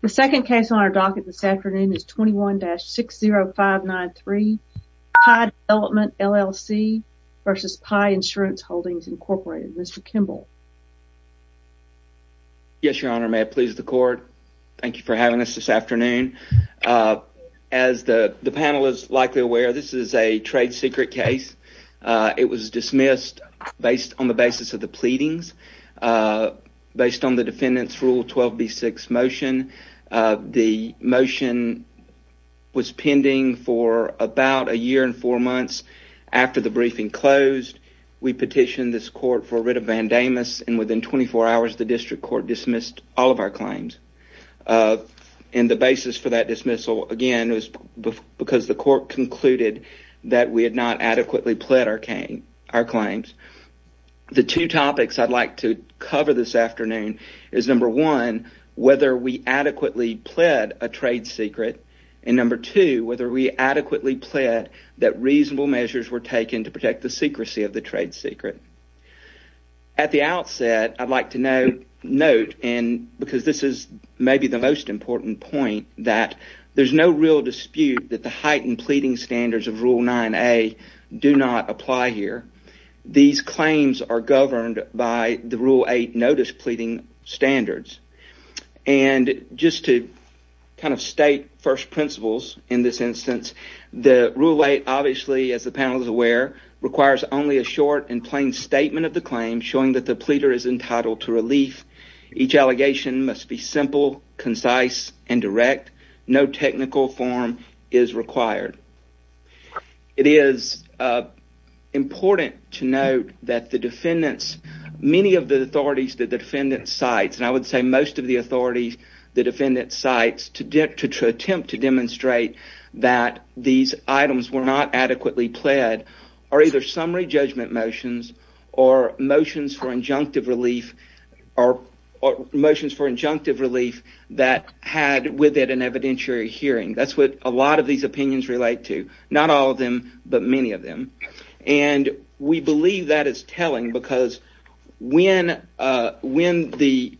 The second case on our docket this afternoon is 21-60593 Pie Development LLC vs. Pie Insurance Holdings Incorporated. Mr. Kimball. Yes, Your Honor. May it please the court. Thank you for having us this afternoon. As the panel is likely aware, this is a trade secret case. It was dismissed based on the basis of the pleadings based on the defendants rule 12b6 motion. The motion was pending for about a year and four months after the briefing closed. We petitioned this court for writ of Vandamus and within 24 hours the district court dismissed all of our claims. And the basis for that dismissal, again, was because the court concluded that we had not adequately pled our claims. The two topics I'd like to cover this afternoon is number one, whether we adequately pled a trade secret, and number two, whether we adequately pled that reasonable measures were taken to protect the secrecy of the trade secret. At the outset, I'd like to note, and because this is maybe the most important point, that there's no real dispute that the heightened pleading standards of Rule 9a do not apply here. These claims are governed by the Rule 8 notice pleading standards. And just to kind of state first principles in this instance, the Rule 8 obviously, as the panel is aware, requires only a short and plain statement of the claim showing that the pleader is entitled to relief. Each allegation must be simple, concise, and direct. No technical form is required. It is important to note that the defendants, many of the authorities that the defendants cite, and I would say most of the authorities the defendants cite to attempt to demonstrate that these items were not adequately pled are either summary judgment motions or motions for injunctive relief that had with it an evidentiary hearing. That's what a lot of these opinions relate to. Not all of them, but many of them. And we believe that is telling because when the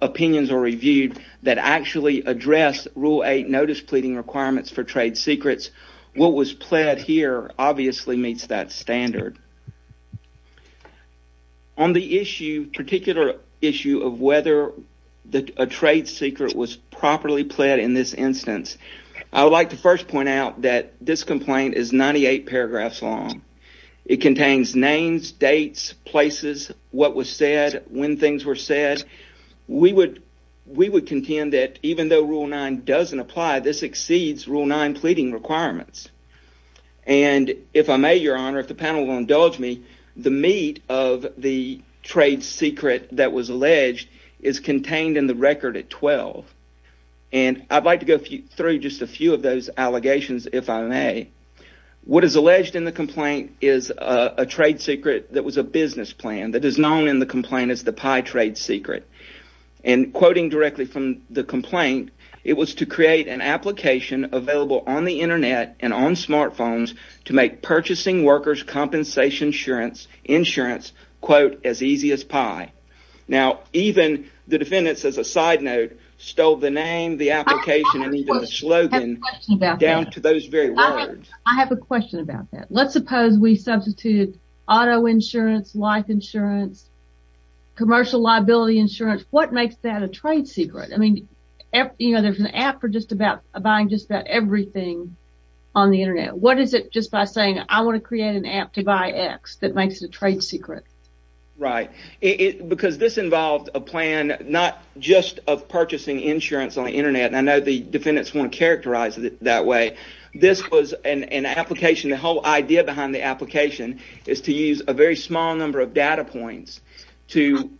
opinions are reviewed that actually address Rule 8 notice pleading requirements for trade secrets, what was pled here obviously meets that standard. On the issue, particular issue of whether a trade secret was properly pled in this instance, I would like to first point out that this complaint is 98 paragraphs long. It contains names, dates, places, what was said, when things were said. We would contend that even though Rule 9 doesn't apply, this exceeds Rule 9 pleading requirements. And if I may, Your Honor, if the panel will indulge me, the meat of the trade secret that was alleged is contained in the record at 12. And I'd like to go through just a few of those allegations if I may. What is alleged in the complaint is a trade secret that was a business plan that is known in the complaint as the pie trade secret. And quoting directly from the complaint, it was to create an application available on the internet and on smart phones to make purchasing workers' compensation insurance quote as easy as pie. Now, even the defendants as a side note stole the name, the application, and even the slogan down to those very words. I have a question about that. Let's suppose we substitute auto insurance, life insurance, commercial liability insurance. What makes that a trade secret? I mean, there's an app for buying just about everything on the internet. What is it just by saying I want to create an app to buy X that makes it a trade secret? Right. Because this involved a plan not just of purchasing insurance on the internet, and I know the defendants want to characterize it that way. This was an application, the whole idea behind the application is to use a very small number of data points to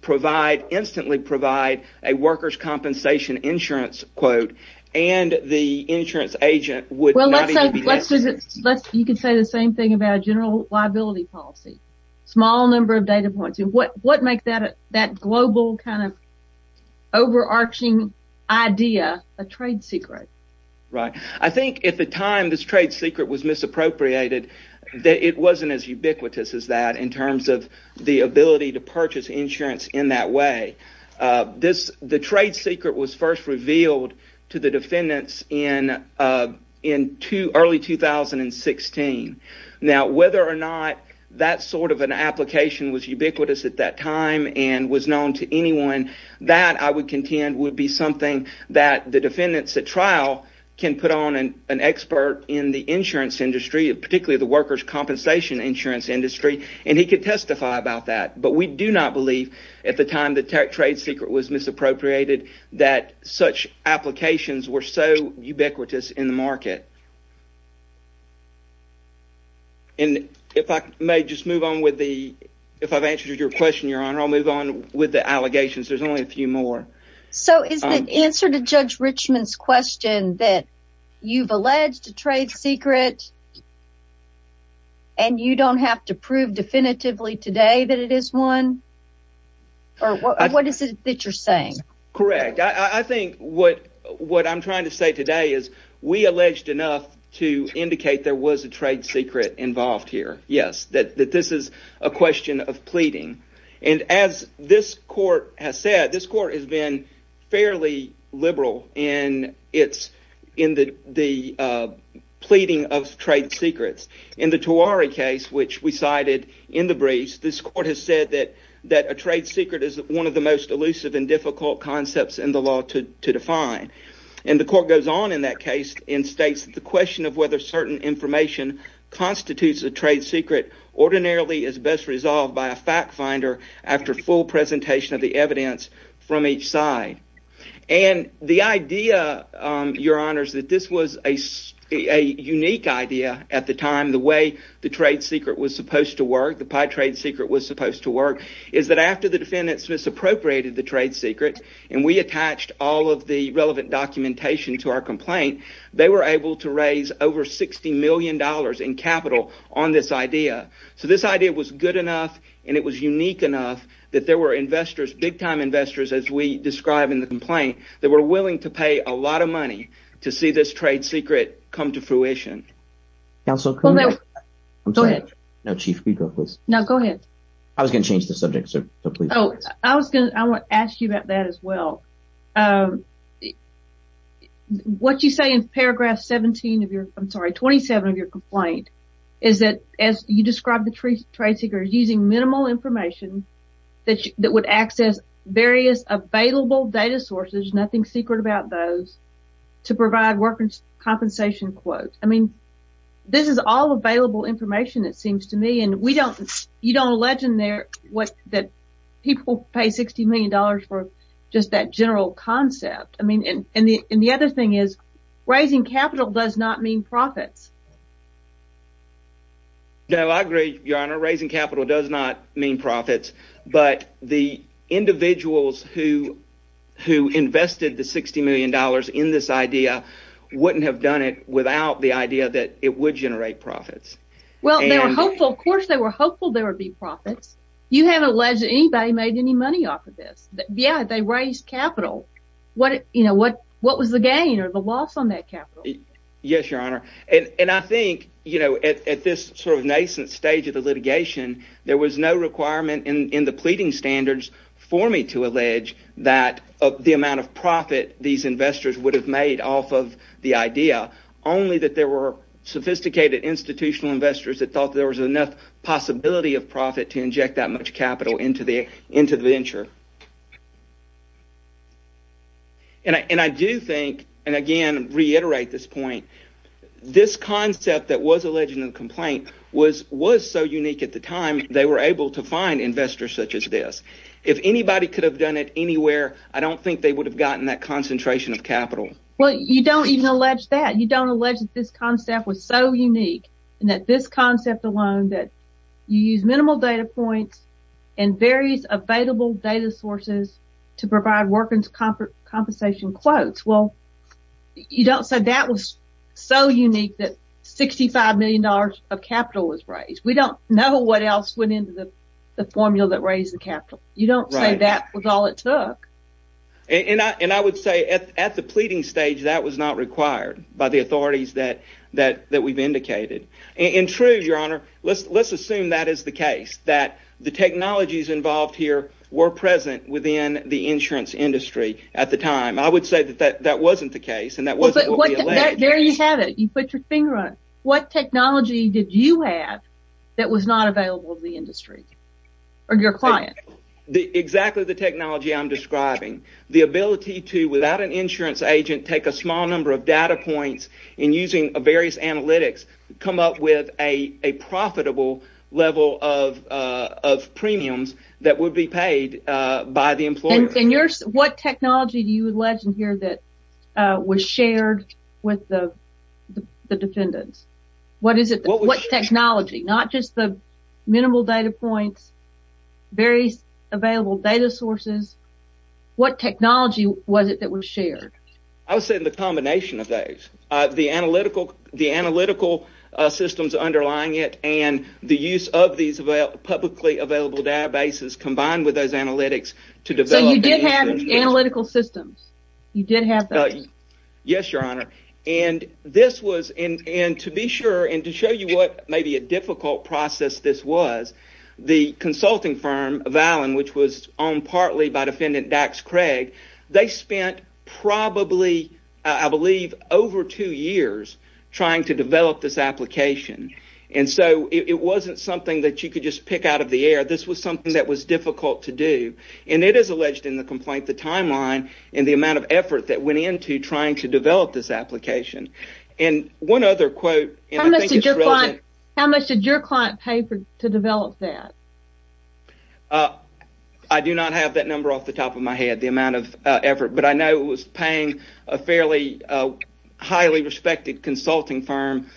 provide, instantly provide, a workers' compensation insurance quote and the insurance agent would not even be interested. You could say the same thing about general liability policy. Small number of data points. What makes that global kind of overarching idea a trade secret? I think at the time this trade secret was misappropriated, it wasn't as ubiquitous as that in terms of the ability to purchase insurance in that way. The trade secret was first revealed to the defendants in early 2016. Now, whether or not that sort of an application was ubiquitous at that time and was known to anyone, that I would contend would be something that the defendants at trial can put on an expert in the insurance industry, particularly the workers' compensation insurance industry, and he could testify about that. But we do not believe, at the time the trade secret was misappropriated, that such applications were so ubiquitous in the market. And if I may just move on with the, if I've answered your question, your honor, I'll move on with the allegations. There's only a few more. So is the answer to Judge Richmond's question that you've alleged a trade secret and you don't have to prove definitively today that it is one? Or what is it that you're saying? Correct. I think what I'm trying to say today is we alleged enough to indicate there was a trade secret involved here. Yes, that this is a question of pleading. And as this court has said, this court has been fairly liberal in its, in the pleading of trade secrets. In the Tuareg case, which we cited in the briefs, this court has said that a trade secret is one of the most elusive and difficult concepts in the law to define. And the court goes on in that case and states that the question of whether certain information constitutes a trade secret ordinarily is best resolved by a fact finder after full presentation of the evidence from each side. And the idea, your honors, that this was a unique idea at the time, the way the trade secret was supposed to work, the pie trade secret was supposed to work, is that after the defendant misappropriated the trade secret and we attached all of the relevant documentation to our complaint, they were able to raise over $60 million in capital on this idea. So this idea was good enough and it was unique enough that there were investors, big time investors, as we describe in the complaint, that were willing to pay a lot of money to see this trade secret come to fruition. I was going to change the subject, sir. Oh, I was going to ask you about that as well. What you say in paragraph 17 of your, I'm sorry, 27 of your complaint, is that as you describe the trade secret as using minimal information that would access various available data sources, nothing secret about those, to provide workers' compensation quotes. I mean, this is all available information, it seems to me, and you don't allege in there that people pay $60 million for just that general concept. And the other thing is, raising capital does not mean profits. No, I agree, your honor. Raising capital does not mean profits, but the individuals who invested the $60 million in this idea wouldn't have done it without the idea that it would generate profits. Well, they were hopeful, of course they were hopeful there would be profits. You haven't alleged that anybody made any money off of this. Yeah, they raised capital. What was the gain or the loss on that capital? Yes, your honor. And I think, you know, at this sort of nascent stage of the litigation, there was no requirement in the pleading standards for me to allege that the amount of profit these investors would have made off of the idea, only that there were sophisticated institutional investors that thought there was enough possibility of profit to inject that much capital into the venture. And I do think, and again, reiterate this point, this concept that was alleged in the complaint was so unique at the time they were able to find investors such as this. If anybody could have done it anywhere, I don't think they would have gotten that concentration of capital. Well, you don't even allege that. You don't allege that this concept was so unique and that this concept alone that you use minimal data points and various available data sources to provide workers compensation quotes. Well, you don't say that was so unique that $65 million of capital was raised. We don't know what else went into the formula that raised the capital. You don't say that was all it took. And I would say at the pleading stage, that was not required by the authorities that we've indicated. In truth, your honor, let's assume that is the case, that the technologies involved here were present within the insurance industry at the time. I would say that that wasn't the case and that wasn't what we alleged. There you have it. You put your finger on it. What technology did you have that was not available to the industry or your client? Exactly the technology I'm describing. The ability to, without an insurance agent, take a small number of data points and using various analytics, come up with a profitable level of premiums that would be paid by the employer. What technology do you allege in here that was shared with the defendants? What is it? What technology? Not just the minimal data points, various available data sources. What technology was it that was shared? I would say the combination of those. The analytical systems underlying it and the use of these publicly available databases combined with those analytics. So you did have analytical systems? You did have those? Yes, your honor. And this was, and to be sure, and to show you what maybe a difficult process this was, the consulting firm, Valin, which was owned partly by defendant Dax Craig, they spent probably, I believe, over two years trying to develop this application. And so it wasn't something that you could just pick out of the air. This was something that was difficult to do. And it is alleged in the complaint, the timeline and the amount of effort that went into trying to develop this application. And one other quote. How much did your client pay to develop that? I do not have that number off the top of my head, the amount of effort, but I know it was paying a fairly highly respected consulting firm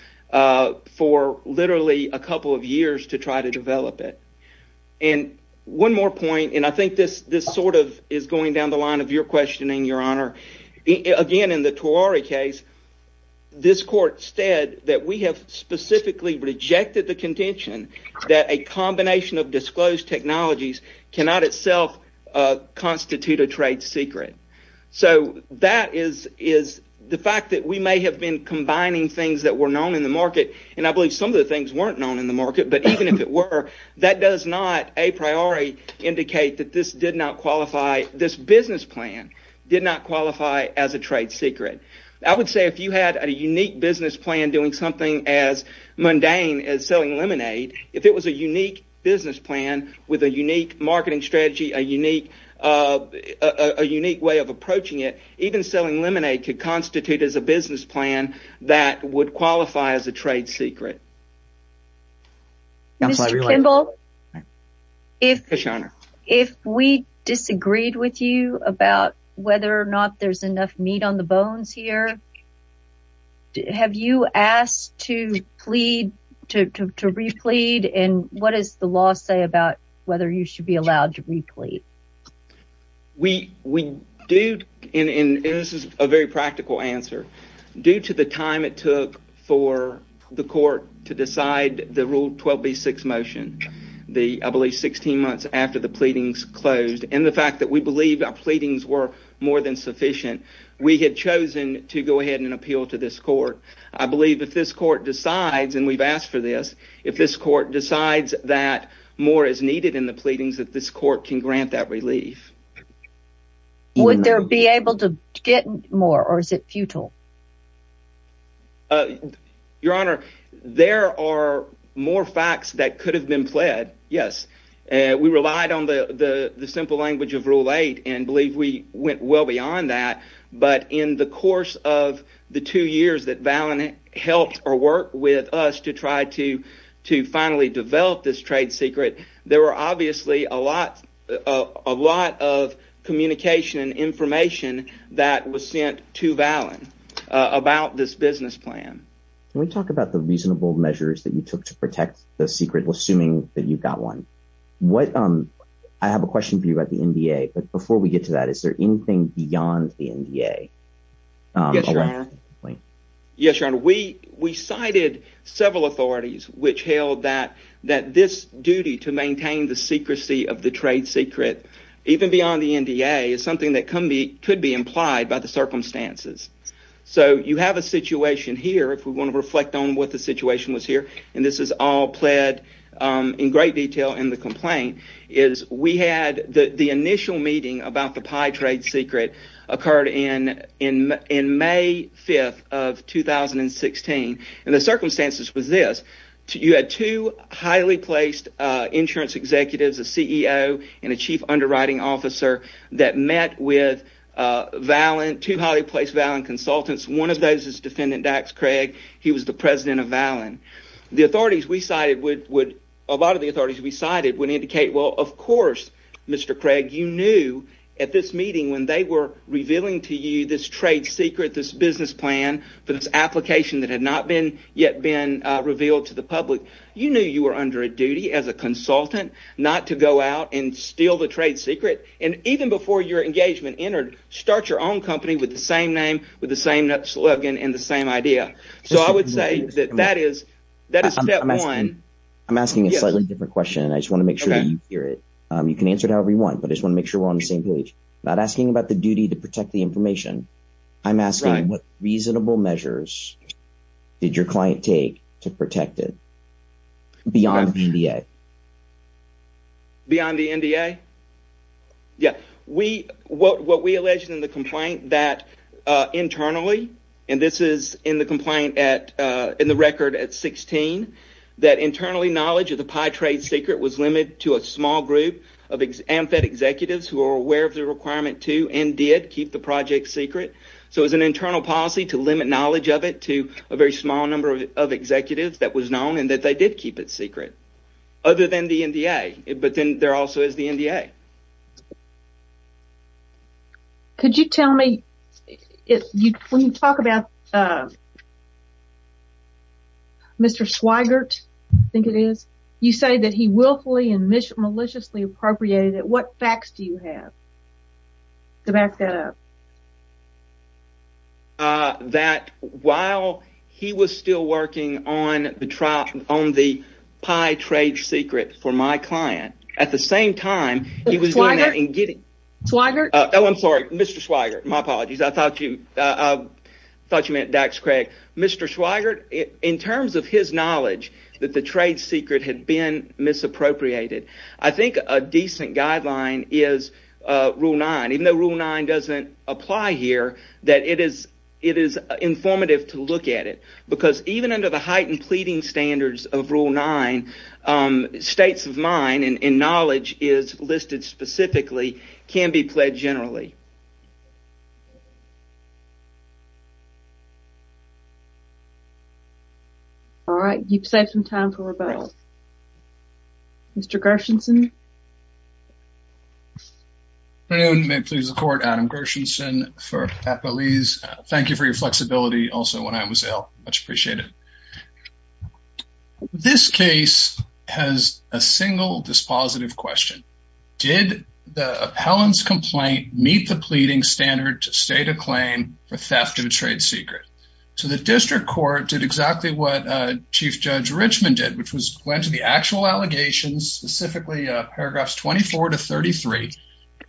for literally a couple of years to try to develop it. And one more point, and I think this sort of is going down the line of your questioning, your honor. Again, in the Tuareg case, this court said that we have specifically rejected the contention that a combination of disclosed technologies cannot itself constitute a trade secret. So that is the fact that we may have been combining things that were known in the market, and I believe some of the things weren't known in the market, but even if it were, that does not a priori indicate that this did not qualify, this business plan did not qualify as a trade secret. I would say if you had a unique business plan doing something as mundane as selling lemonade, if it was a unique business plan with a unique marketing strategy, a unique way of approaching it, even selling lemonade could constitute as a business plan that would qualify as a trade secret. Mr. Kimball, if we disagreed with you about whether or not there's enough meat on the bones here, have you asked to plead, to replete, and what does the law say about whether you should be allowed to replete? We do, and this is a very practical answer, due to the time it took for the court to decide the Rule 12B6 motion, I believe 16 months after the pleadings closed, and the fact that we believe our pleadings were more than sufficient, we had chosen to go ahead and appeal to this court. I believe if this court decides, and we've asked for this, if this court decides that more is needed in the pleadings, that this court can grant that relief. Would there be able to get more, or is it futile? Your Honor, there are more facts that could have been pled, yes. We relied on the simple language of Rule 8, and believe we went well beyond that, but in the course of the two years that Valin helped or worked with us to try to finally develop this trade secret, there were obviously a lot of communication and information that was sent to Valin. Can we talk about the reasonable measures that you took to protect the secret, assuming that you've got one? I have a question for you about the NDA, but before we get to that, is there anything beyond the NDA? Yes, Your Honor. We cited several authorities which held that this duty to maintain the secrecy of the trade secret, even beyond the NDA, is something that could be implied by the circumstances. You have a situation here, if we want to reflect on what the situation was here, and this is all pled in great detail in the complaint. The initial meeting about the pie trade secret occurred in May 5th of 2016, and the circumstances was this. You had two highly placed insurance executives, a CEO and a chief underwriting officer, that met with two highly placed Valin consultants. One of those is Defendant Dax Craig. He was the president of Valin. A lot of the authorities we cited would indicate, well, of course, Mr. Craig, you knew at this meeting when they were revealing to you this trade secret, this business plan, this application that had not yet been revealed to the public, you knew you were under a duty as a consultant not to go out and steal the trade secret, and even before your engagement entered, start your own company with the same name, with the same slogan, and the same idea. So I would say that that is step one. I'm asking a slightly different question, and I just want to make sure that you hear it. You can answer it however you want, but I just want to make sure we're on the same page. I'm not asking about the duty to protect the information. I'm asking what reasonable measures did your client take to protect it beyond the NDA? Beyond the NDA? Yeah, what we alleged in the complaint that internally, and this is in the complaint in the record at 16, that internally knowledge of the pie trade secret was limited to a small group of AMFED executives who were aware of the requirement to, and did, keep the project secret. So it was an internal policy to limit knowledge of it to a very small number of executives that was known, and that they did keep it secret, other than the NDA. But then there also is the NDA. Could you tell me, when you talk about Mr. Swigert, I think it is, you say that he willfully and maliciously appropriated it. What facts do you have to back that up? That while he was still working on the pie trade secret for my client, at the same time, he was doing that and getting... Swigert? Oh, I'm sorry, Mr. Swigert, my apologies, I thought you meant Dax Craig. Mr. Swigert, in terms of his knowledge that the trade secret had been misappropriated, I think a decent guideline is Rule 9. Even though Rule 9 doesn't apply here, that it is informative to look at it. Because even under the heightened pleading standards of Rule 9, states of mine, and knowledge is listed specifically, can be pledged generally. Alright, you've saved some time for rebuttal. Mr. Gershenson? Good afternoon. May it please the Court, Adam Gershenson for Appalese. Thank you for your flexibility also when I was ill. Much appreciated. This case has a single dispositive question. Did the appellant's complaint meet the pleading standard to state a claim for theft of a trade secret? So the district court did exactly what Chief Judge Richman did, which went to the actual allegations, specifically paragraphs 24 to 33.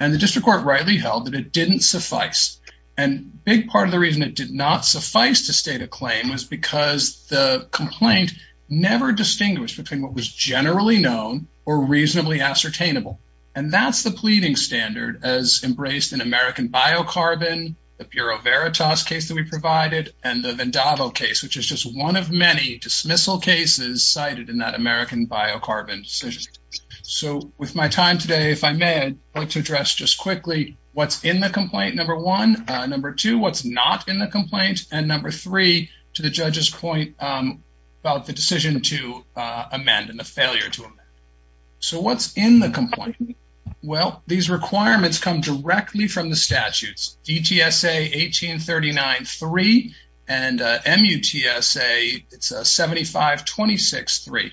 And the district court rightly held that it didn't suffice. And a big part of the reason it did not suffice to state a claim was because the complaint never distinguished between what was generally known or reasonably ascertainable. And that's the pleading standard as embraced in American Biocarbon, the Bureau Veritas case that we provided, and the Vendato case, which is just one of many dismissal cases cited in that American Biocarbon decision. So with my time today, if I may, I'd like to address just quickly what's in the complaint, number one. Number two, what's not in the complaint. And number three, to the judge's point about the decision to amend and the failure to amend. So what's in the complaint? Well, these requirements come directly from the statutes, DTSA 1839.3 and MUTSA 7526.3.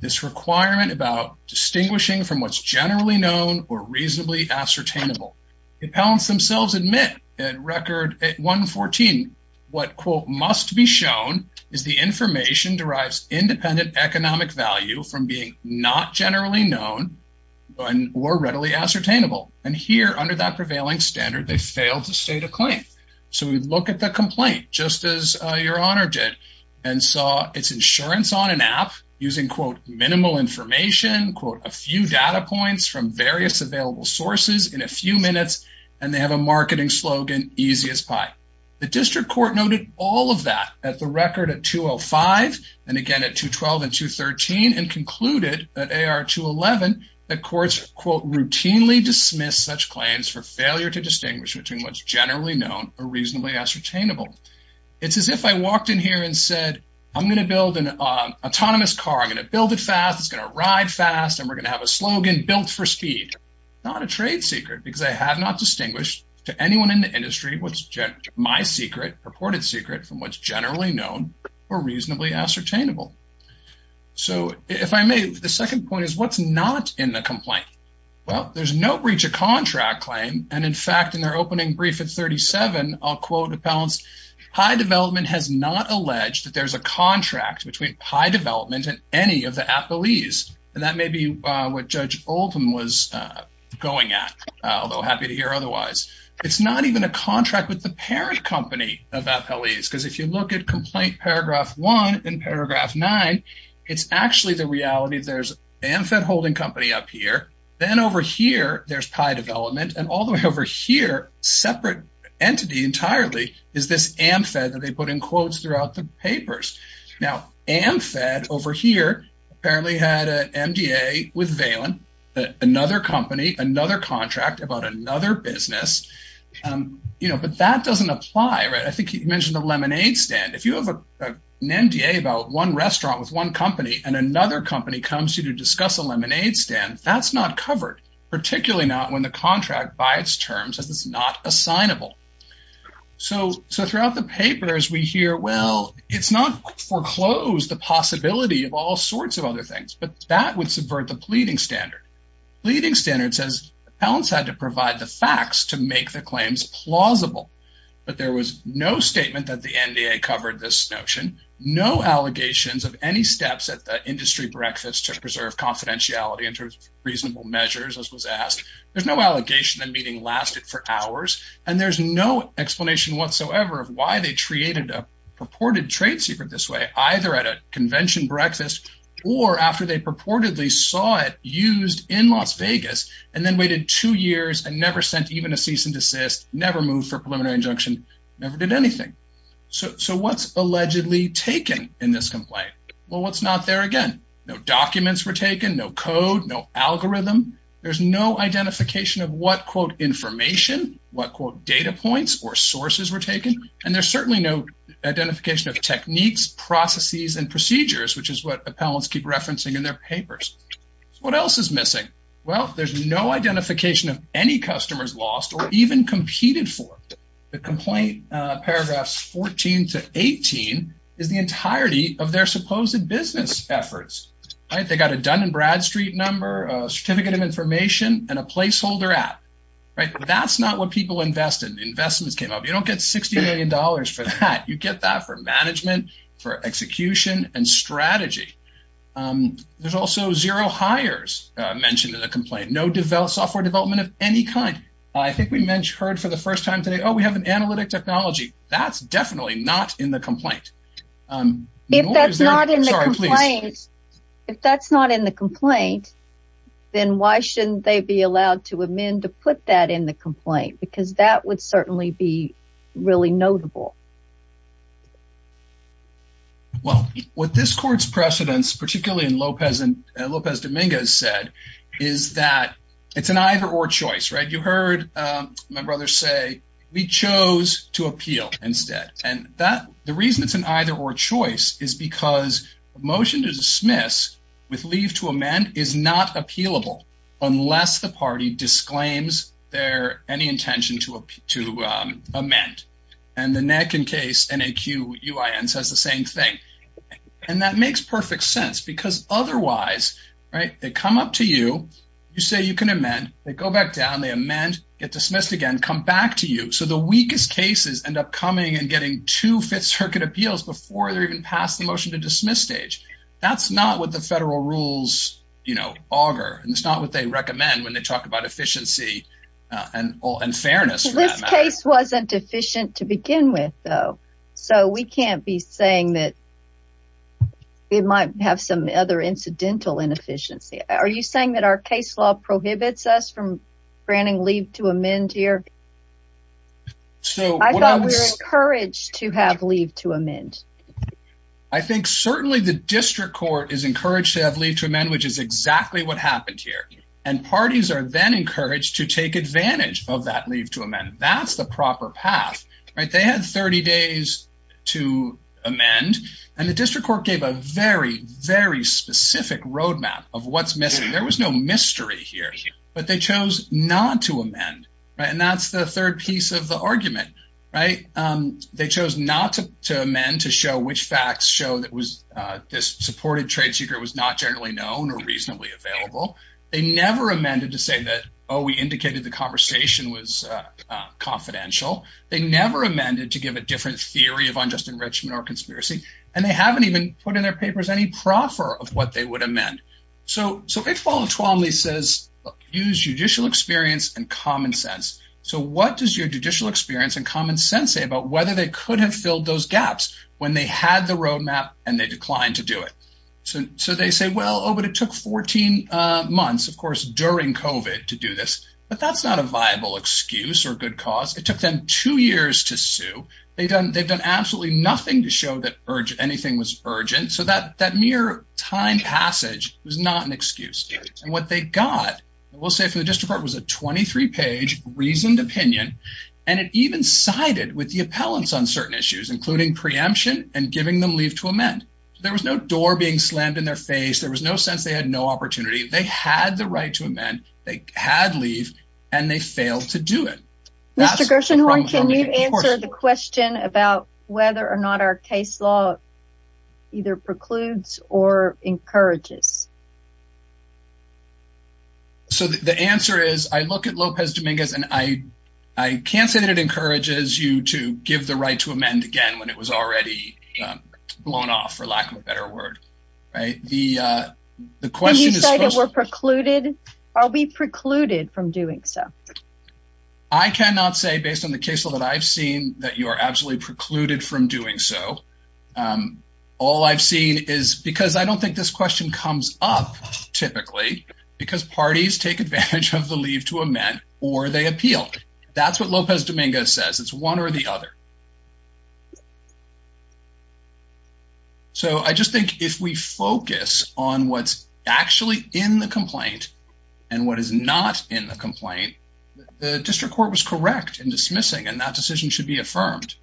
This requirement about distinguishing from what's generally known or reasonably ascertainable. The appellants themselves admit in record 114 what, quote, must be shown is the information derives independent economic value from being not generally known or readily ascertainable. And here, under that prevailing standard, they failed to state a claim. So we look at the complaint, just as Your Honor did, and saw it's insurance on an app using, quote, minimal information, quote, a few data points from various available sources in a few minutes, and they have a marketing slogan, easy as pie. The district court noted all of that at the record at 205, and again at 212 and 213, and concluded at AR 211 that courts, quote, routinely dismiss such claims for failure to distinguish between what's generally known or reasonably ascertainable. It's as if I walked in here and said, I'm going to build an autonomous car, I'm going to build it fast, it's going to ride fast, and we're going to have a slogan built for speed. Not a trade secret, because I have not distinguished to anyone in the industry what's my secret, purported secret, from what's generally known or reasonably ascertainable. So if I may, the second point is what's not in the complaint? Well, there's no breach of contract claim, and in fact, in their opening brief at 37, I'll quote appellants, high development has not alleged that there's a contract between high development and any of the appellees. And that may be what Judge Oldham was going at, although happy to hear otherwise. It's not even a contract with the parent company of appellees, because if you look at Complaint Paragraph 1 in Paragraph 9, it's actually the reality that there's AmFed holding company up here, then over here, there's high development, and all the way over here, separate entity entirely, is this AmFed that they put in quotes throughout the papers. Now, AmFed over here apparently had an MDA with Valen, another company, another contract about another business, but that doesn't apply. I think you mentioned the lemonade stand. If you have an MDA about one restaurant with one company and another company comes to you to discuss a lemonade stand, that's not covered, particularly not when the contract by its terms says it's not assignable. So throughout the papers, we hear, well, it's not foreclosed the possibility of all sorts of other things, but that would subvert the pleading standard. Pleading standard says appellants had to provide the facts to make the claims plausible, but there was no statement that the MDA covered this notion, no allegations of any steps at the industry breakfast to preserve confidentiality in terms of reasonable measures, as was asked. There's no allegation that meeting lasted for hours, and there's no explanation whatsoever of why they created a purported trade secret this way, either at a convention breakfast or after they purportedly saw it used in Las Vegas and then waited two years and never sent even a cease and desist, never moved for preliminary injunction, never did anything. So what's allegedly taken in this complaint? Well, what's not there again? No documents were taken, no code, no algorithm. There's no identification of what, quote, information, what, quote, data points or sources were taken. And there's certainly no identification of techniques, processes, and procedures, which is what appellants keep referencing in their papers. What else is missing? Well, there's no identification of any customers lost or even competed for. The complaint, paragraphs 14 to 18, is the entirety of their supposed business efforts. They got a Dun & Bradstreet number, a certificate of information, and a placeholder app. That's not what people invested. Investments came up. You don't get $60 million for that. You get that for management, for execution, and strategy. There's also zero hires mentioned in the complaint, no software development of any kind. I think we heard for the first time today, oh, we have an analytic technology. That's definitely not in the complaint. If that's not in the complaint, then why shouldn't they be allowed to amend to put that in the complaint? Because that would certainly be really notable. Well, what this court's precedents, particularly in Lopez Dominguez, said is that it's an either-or choice. You heard my brother say, we chose to appeal instead. The reason it's an either-or choice is because a motion to dismiss with leave to amend is not appealable unless the party disclaims any intention to amend. The NAC and case, N-A-Q-U-I-N, says the same thing. That makes perfect sense because otherwise, they come up to you. You say you can amend. They go back down. They amend, get dismissed again, come back to you. The weakest cases end up coming and getting two Fifth Circuit appeals before they're even passed the motion to dismiss stage. That's not what the federal rules auger. It's not what they recommend when they talk about efficiency and fairness for that matter. This case wasn't efficient to begin with, though, so we can't be saying that it might have some other incidental inefficiency. Are you saying that our case law prohibits us from granting leave to amend here? I thought we were encouraged to have leave to amend. I think certainly the district court is encouraged to have leave to amend, which is exactly what happened here, and parties are then encouraged to take advantage of that leave to amend. That's the proper path. They had 30 days to amend, and the district court gave a very, very specific roadmap of what's missing. There was no mystery here, but they chose not to amend, and that's the third piece of the argument. They chose not to amend to show which facts show that this supported trade secret was not generally known or reasonably available. They never amended to say that, oh, we indicated the conversation was confidential. They never amended to give a different theory of unjust enrichment or conspiracy, and they haven't even put in their papers any proffer of what they would amend. If Paula Twombly says use judicial experience and common sense, what does your judicial experience and common sense say about whether they could have filled those gaps when they had the roadmap and they declined to do it? They say, well, oh, but it took 14 months, of course, during COVID to do this, but that's not a viable excuse or good cause. It took them two years to sue. They've done absolutely nothing to show that anything was urgent. So that mere time passage was not an excuse, and what they got, we'll say from the district court, was a 23-page reasoned opinion, and it even sided with the appellants on certain issues, including preemption and giving them leave to amend. There was no door being slammed in their face. There was no sense they had no opportunity. They had the right to amend. They had leave, and they failed to do it. Mr. Gershenhorn, can you answer the question about whether or not our case law either precludes or encourages? So the answer is, I look at Lopez Dominguez, and I can't say that it encourages you to give the right to amend again when it was already blown off, for lack of a better word. Right? The question is supposed to be... Did you say that we're precluded? Are we precluded from doing so? I cannot say, based on the case law that I've seen, that you are absolutely precluded from doing so. All I've seen is, because I don't think this question comes up typically, because parties take advantage of the leave to amend, or they appeal. That's what Lopez Dominguez says. It's one or the other. So I just think if we focus on what's actually in the complaint and what is not in the complaint, the district court was correct in dismissing, and that decision should be affirmed.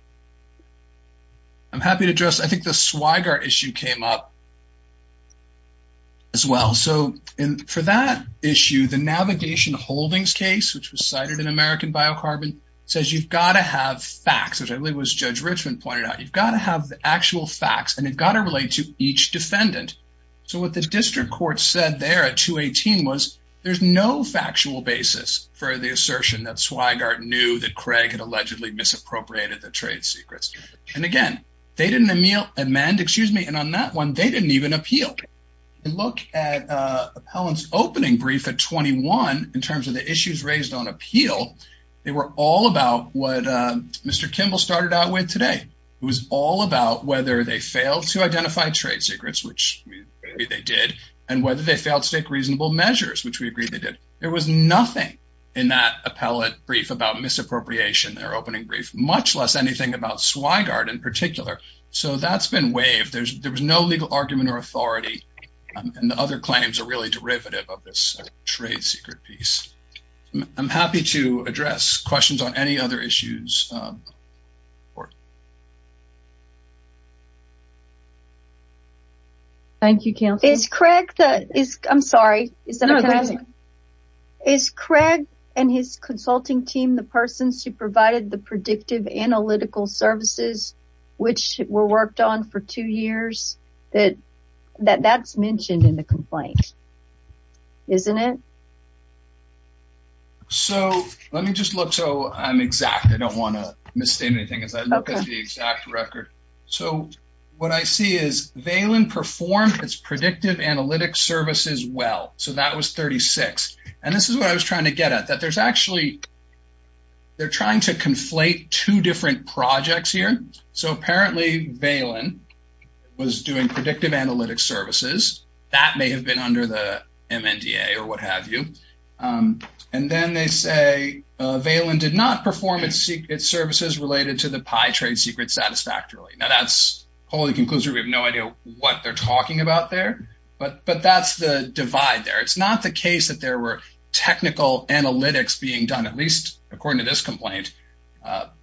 I'm happy to address... I think the Swigart issue came up as well. So for that issue, the Navigation Holdings case, which was cited in American Biocarbon, says you've got to have facts, which I believe was Judge Richmond pointed out. You've got to have the actual facts, and you've got to relate to each defendant. So what the district court said there at 218 was, there's no factual basis for the assertion that Swigart knew that Craig had allegedly misappropriated the trade secrets. And again, they didn't amend, and on that one, they didn't even appeal. If you look at Appellant's opening brief at 21, in terms of the issues raised on appeal, they were all about what Mr. Kimball started out with today. It was all about whether they failed to identify trade secrets, which we agree they did, and whether they failed to take reasonable measures, which we agree they did. There was nothing in that appellate brief about misappropriation in their opening brief, much less anything about Swigart in particular. So that's been waived. There was no legal argument or authority, and the other claims are really derivative of this trade secret piece. I'm happy to address questions on any other issues. Thank you, Counselor. I'm sorry. Is Craig and his consulting team the persons who provided the predictive analytical services, which were worked on for two years? That's mentioned in the complaint, isn't it? So let me just look so I'm exact. I don't want to misstate anything as I look at the exact record. So what I see is Valen performed its predictive analytic services well. So that was 36. And this is what I was trying to get at, that there's actually they're trying to conflate two different projects here. So apparently Valen was doing predictive analytic services that may have been under the MNDA or what have you. And then they say Valen did not perform its services related to the Pi trade secret satisfactorily. Now, that's wholly conclusive. We have no idea what they're talking about there, but that's the divide there. It's not the case that there were technical analytics being done, at least according to this complaint,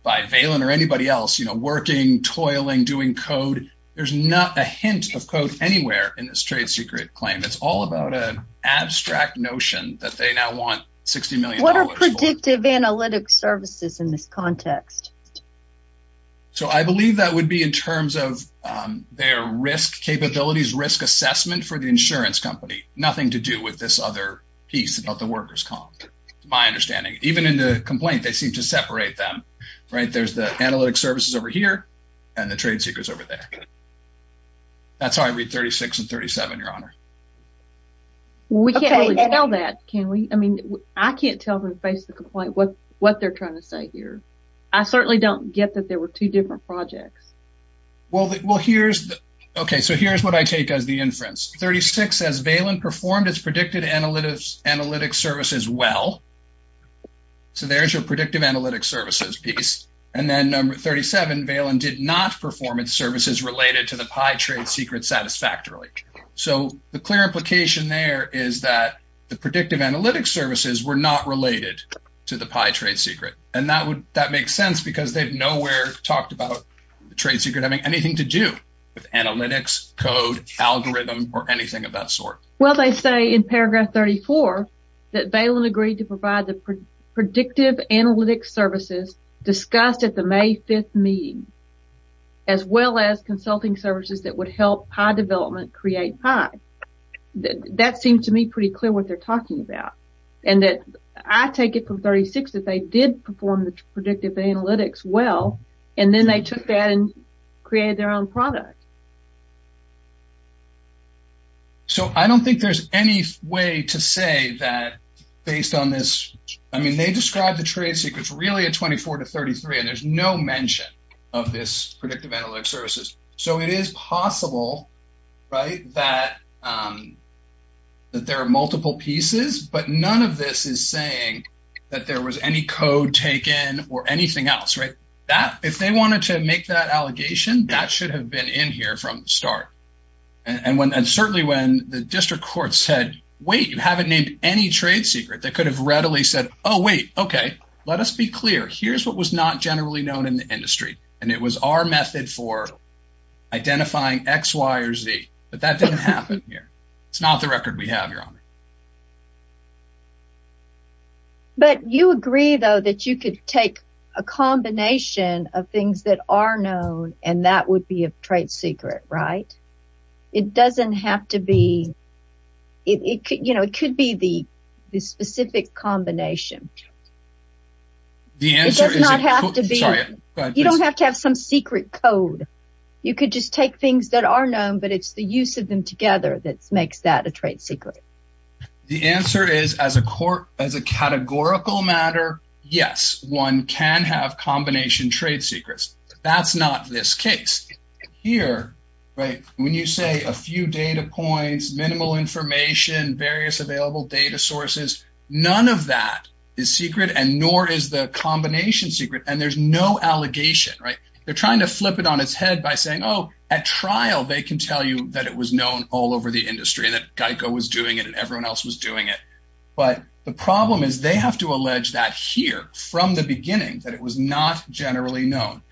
by Valen or anybody else, you know, working, toiling, doing code. There's not a hint of code anywhere in this trade secret claim. It's all about an abstract notion that they now want $60 million. What are predictive analytic services in this context? So I believe that would be in terms of their risk capabilities, risk assessment for the insurance company. Nothing to do with this other piece about the workers' comp, to my understanding. Even in the complaint, they seem to separate them, right? There's the analytic services over here and the trade secrets over there. That's how I read 36 and 37, Your Honor. We can't really tell that, can we? I mean, I can't tell from the face of the complaint what they're trying to say here. I certainly don't get that there were two different projects. Okay, so here's what I take as the inference. 36 says, Valen performed its predicted analytic services well. So there's your predictive analytic services piece. And then number 37, Valen did not perform its services related to the pie trade secret satisfactorily. So the clear implication there is that the predictive analytic services were not related to the pie trade secret. And that makes sense because they've nowhere talked about the trade secret having anything to do with analytics, code, algorithm, or anything of that sort. Well, they say in paragraph 34 that Valen agreed to provide the predictive analytic services discussed at the May 5th meeting, as well as consulting services that would help pie development create pie. That seems to me pretty clear what they're talking about. And I take it from 36 that they did perform the predictive analytics well, and then they took that and created their own product. So I don't think there's any way to say that based on this. I mean, they described the trade secrets really at 24 to 33, and there's no mention of this predictive analytic services. So it is possible that there are multiple pieces, but none of this is saying that there was any code taken or anything else. If they wanted to make that allegation, that should have been in here from the start. And certainly when the district court said, wait, you haven't named any trade secret, they could have readily said, oh, wait, okay, let us be clear. Here's what was not generally known in the industry, and it was our method for identifying X, Y, or Z. But that didn't happen here. It's not the record we have, Your Honor. But you agree, though, that you could take a combination of things that are known, and that would be a trade secret, right? It doesn't have to be – you know, it could be the specific combination. It does not have to be – you don't have to have some secret code. You could just take things that are known, but it's the use of them together that makes that a trade secret. The answer is, as a categorical matter, yes, one can have combination trade secrets. That's not this case. Here, right, when you say a few data points, minimal information, various available data sources, none of that is secret, and nor is the combination secret. And there's no allegation, right? They're trying to flip it on its head by saying, oh, at trial they can tell you that it was known all over the industry, that GEICO was doing it and everyone else was doing it. But the problem is they have to allege that here from the beginning, that it was not generally known.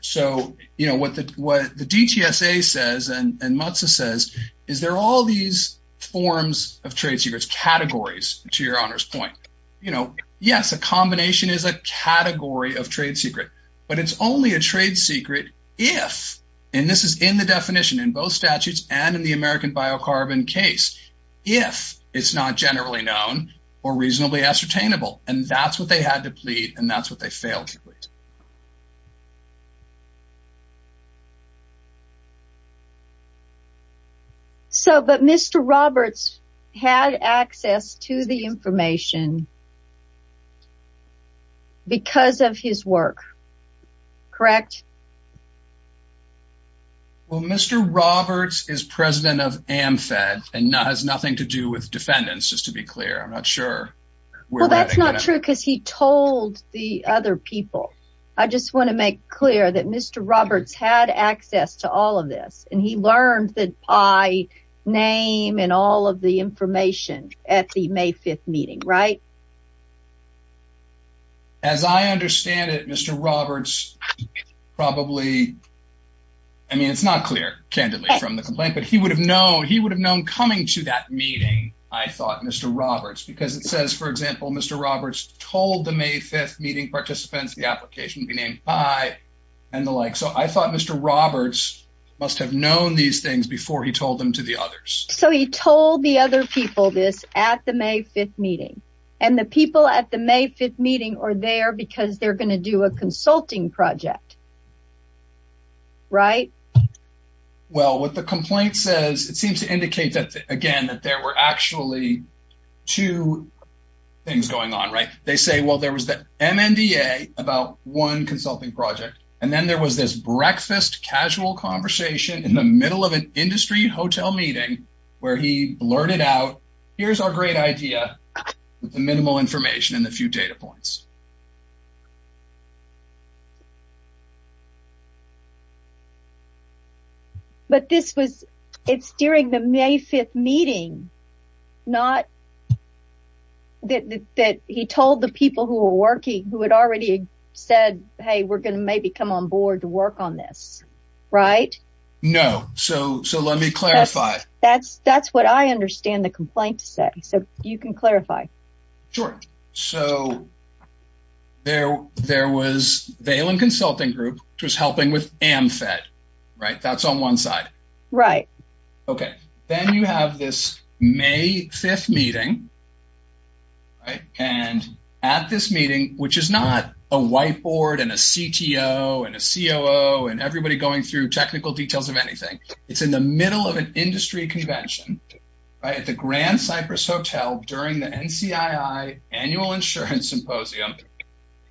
So, you know, what the DTSA says and MUTSA says is there are all these forms of trade secrets, categories, to your Honor's point. You know, yes, a combination is a category of trade secret, but it's only a trade secret if – and this is in the definition in both statutes and in the American biocarbon case – if it's not generally known or reasonably ascertainable, and that's what they had to plead and that's what they failed to plead. So, but Mr. Roberts had access to the information because of his work, correct? Well, Mr. Roberts is president of AmFed and has nothing to do with defendants, just to be clear. I'm not sure. Well, that's not true because he told the other people. I just want to make clear that Mr. Roberts had access to all of this and he learned the pie name and all of the information at the May 5th meeting, right? As I understand it, Mr. Roberts probably – I mean, it's not clear, candidly, from the complaint, but he would have known coming to that meeting, I thought, Mr. Roberts, because it says, for example, Mr. Roberts told the May 5th meeting participants the application would be named pie and the like. So, I thought Mr. Roberts must have known these things before he told them to the others. So, he told the other people this at the May 5th meeting, and the people at the May 5th meeting are there because they're going to do a consulting project, right? Well, what the complaint says, it seems to indicate that, again, that there were actually two things going on, right? They say, well, there was the MNDA about one consulting project, and then there was this breakfast, casual conversation in the middle of an industry hotel meeting where he blurted out, here's our great idea with the minimal information and a few data points. But this was – it's during the May 5th meeting, not – that he told the people who were working, who had already said, hey, we're going to maybe come on board to work on this, right? No. So, let me clarify. That's what I understand the complaint to say. So, you can clarify. Sure. So, there was Vailen Consulting Group, which was helping with AmFed, right? That's on one side. Right. Okay. Then you have this May 5th meeting, right? And at this meeting, which is not a whiteboard and a CTO and a COO and everybody going through technical details of anything. It's in the middle of an industry convention, right, at the Grand Cypress Hotel during the NCII Annual Insurance Symposium.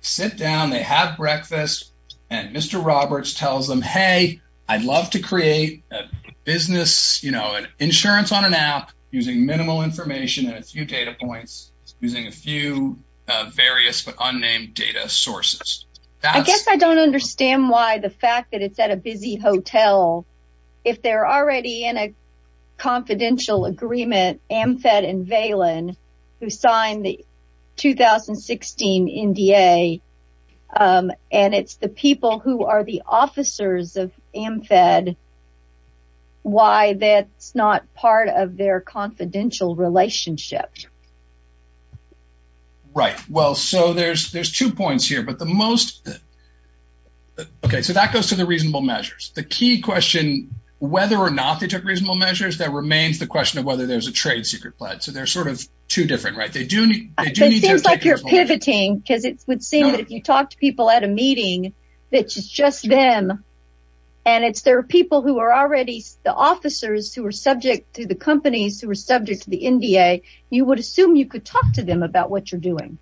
Sit down, they have breakfast, and Mr. Roberts tells them, hey, I'd love to create a business, you know, an insurance on an app using minimal information and a few data points using a few various but unnamed data sources. I guess I don't understand why the fact that it's at a busy hotel, if they're already in a confidential agreement, AmFed and Vailen, who signed the 2016 NDA, and it's the people who are the officers of AmFed, why that's not part of their confidential relationship. Right. Well, so there's two points here, but the most, okay, so that goes to the reasonable measures. The key question, whether or not they took reasonable measures, that remains the question of whether there's a trade secret pledge. So they're sort of two different, right? It seems like you're pivoting, because it would seem that if you talk to people at a meeting, it's just them. And it's their people who are already the officers who are subject to the companies who are subject to the NDA. You would assume you could talk to them about what you're doing.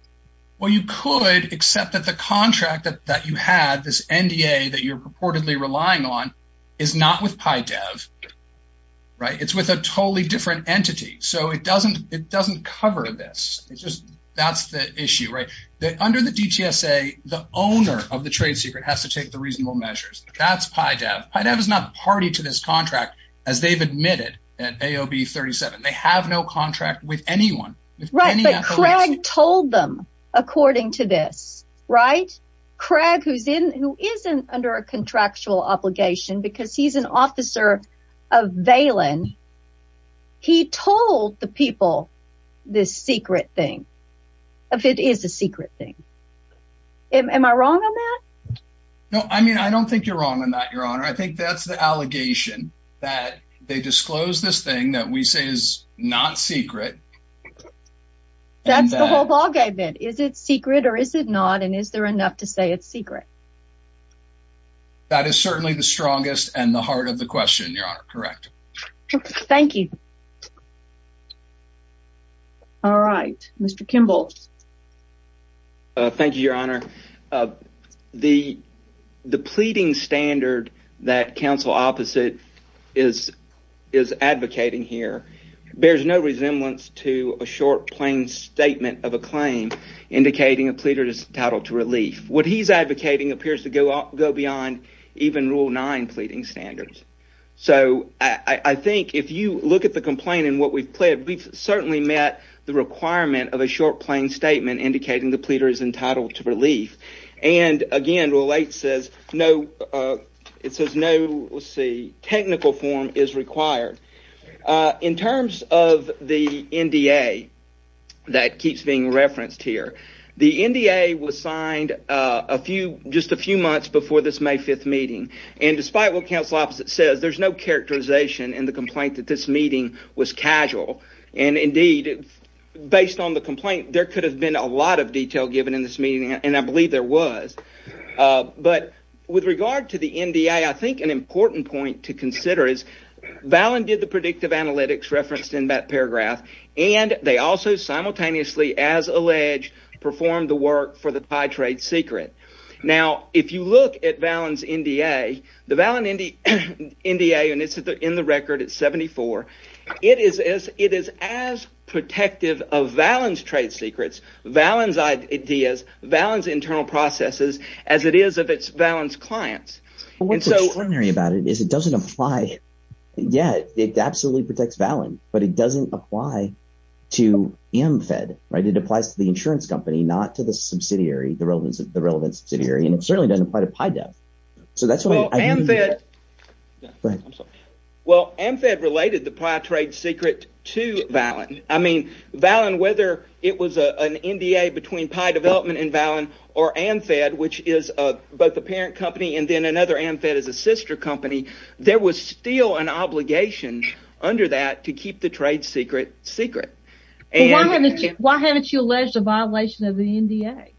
Well, you could, except that the contract that you had, this NDA that you're purportedly relying on, is not with PyDev, right? It's with a totally different entity. So it doesn't cover this. It's just, that's the issue, right? Under the DTSA, the owner of the trade secret has to take the reasonable measures. That's PyDev. PyDev is not party to this contract, as they've admitted at AOB 37. They have no contract with anyone. Right, but Craig told them, according to this, right? If it is a secret thing. Am I wrong on that? No, I mean, I don't think you're wrong on that, Your Honor. I think that's the allegation, that they disclose this thing that we say is not secret. That's the whole ballgame bit. Is it secret or is it not, and is there enough to say it's secret? That is certainly the strongest and the heart of the question, Your Honor. Correct. Thank you. All right, Mr. Kimball. Thank you, Your Honor. The pleading standard that counsel opposite is advocating here bears no resemblance to a short, plain statement of a claim indicating a pleader is entitled to relief. What he's advocating appears to go beyond even Rule 9 pleading standards. I think if you look at the complaint and what we've pled, we've certainly met the requirement of a short, plain statement indicating the pleader is entitled to relief. Again, Rule 8 says no technical form is required. In terms of the NDA that keeps being referenced here, the NDA was signed just a few months before this May 5th meeting. Despite what counsel opposite says, there's no characterization in the complaint that this meeting was casual. Indeed, based on the complaint, there could have been a lot of detail given in this meeting, and I believe there was. But with regard to the NDA, I think an important point to consider is Vallon did the predictive analytics referenced in that paragraph, and they also simultaneously, as alleged, performed the work for the Thai trade secret. Now, if you look at Vallon's NDA, the Vallon NDA, and it's in the record, it's 74, it is as protective of Vallon's trade secrets, Vallon's ideas, Vallon's internal processes, as it is of Vallon's clients. What's extraordinary about it is it doesn't apply – yeah, it absolutely protects Vallon, but it doesn't apply to AmFed. It applies to the insurance company, not to the subsidiary, the relevant subsidiary, and it certainly doesn't apply to PiDev. So that's why – Well, AmFed – Go ahead. I'm sorry. Well, AmFed related the Pi trade secret to Vallon. I mean, Vallon, whether it was an NDA between Pi Development and Vallon or AmFed, which is both a parent company and then another AmFed is a sister company, there was still an obligation under that to keep the trade secret secret. Why haven't you alleged a violation of the NDA?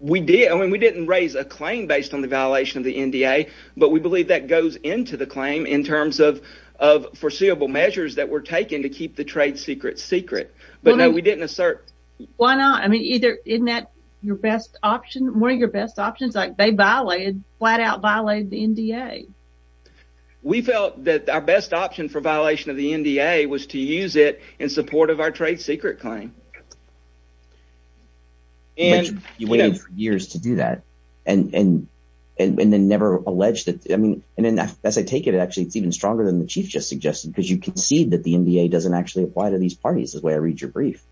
We did. I mean, we didn't raise a claim based on the violation of the NDA, but we believe that goes into the claim in terms of foreseeable measures that were taken to keep the trade secret secret. But, no, we didn't assert – Why not? I mean, isn't that your best option? One of your best options? Like, they flat out violated the NDA. We felt that our best option for violation of the NDA was to use it in support of our trade secret claim. But you waited for years to do that and then never alleged it. I mean, as I take it, it's actually even stronger than the chief just suggested because you concede that the NDA doesn't actually apply to these parties. That's the way I read your brief.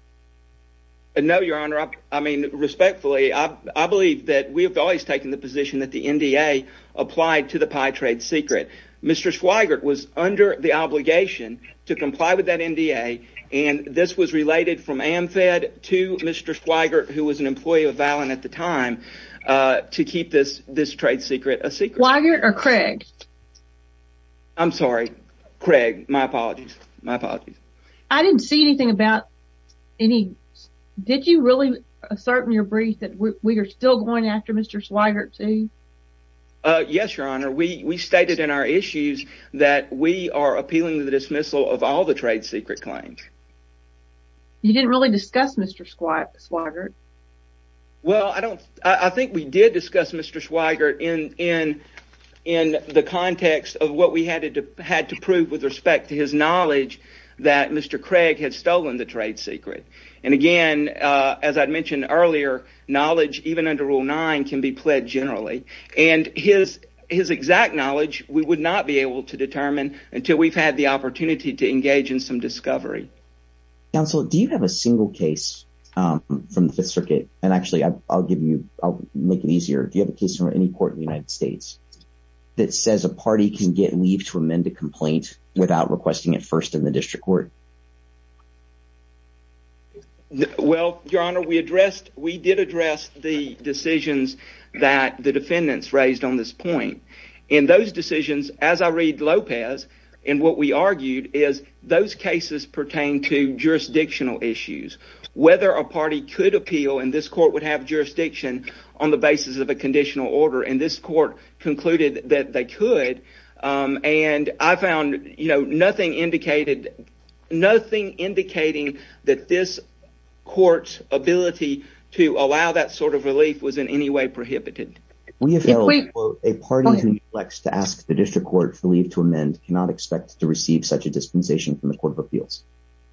No, Your Honor. I mean, respectfully, I believe that we have always taken the position that the NDA applied to the pie trade secret. Mr. Swigert was under the obligation to comply with that NDA, and this was related from AMFED to Mr. Swigert, who was an employee of Valin at the time, to keep this trade secret a secret. Swigert or Craig? I'm sorry. Craig. My apologies. My apologies. I didn't see anything about any – did you really assert in your brief that we are still going after Mr. Swigert, too? Yes, Your Honor. We stated in our issues that we are appealing the dismissal of all the trade secret claims. You didn't really discuss Mr. Swigert. Well, I don't – I think we did discuss Mr. Swigert in the context of what we had to prove with respect to his knowledge that Mr. Craig had stolen the trade secret. And again, as I mentioned earlier, knowledge even under Rule 9 can be pled generally, and his exact knowledge we would not be able to determine until we've had the opportunity to engage in some discovery. Counsel, do you have a single case from the Fifth Circuit – and actually, I'll give you – I'll make it easier. Do you have a case from any court in the United States that says a party can get leave to amend a complaint without requesting it first in the district court? Well, Your Honor, we addressed – we did address the decisions that the defendants raised on this point. In those decisions, as I read Lopez, and what we argued is those cases pertain to jurisdictional issues. Whether a party could appeal, and this court would have jurisdiction on the basis of a conditional order, and this court concluded that they could. And I found, you know, nothing indicated – this court's ability to allow that sort of relief was in any way prohibited. We have held, quote, a party who reflects to ask the district court for leave to amend cannot expect to receive such a dispensation from the Court of Appeals.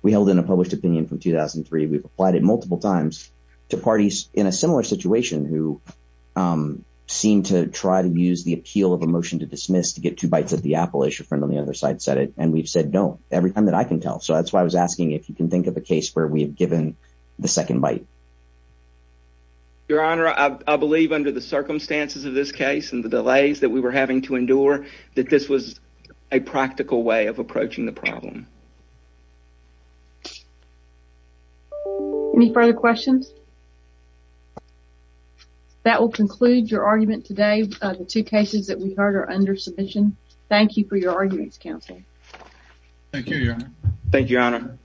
We held in a published opinion from 2003. We've applied it multiple times to parties in a similar situation who seem to try to use the appeal of a motion to dismiss to get two bites at the apple, as your friend on the other side said it. And we've said no every time that I can tell. So that's why I was asking if you can think of a case where we have given the second bite. Your Honor, I believe under the circumstances of this case and the delays that we were having to endure that this was a practical way of approaching the problem. Any further questions? That will conclude your argument today. The two cases that we heard are under submission. Thank you for your arguments, counsel. Thank you, Your Honor. Thank you, Your Honor.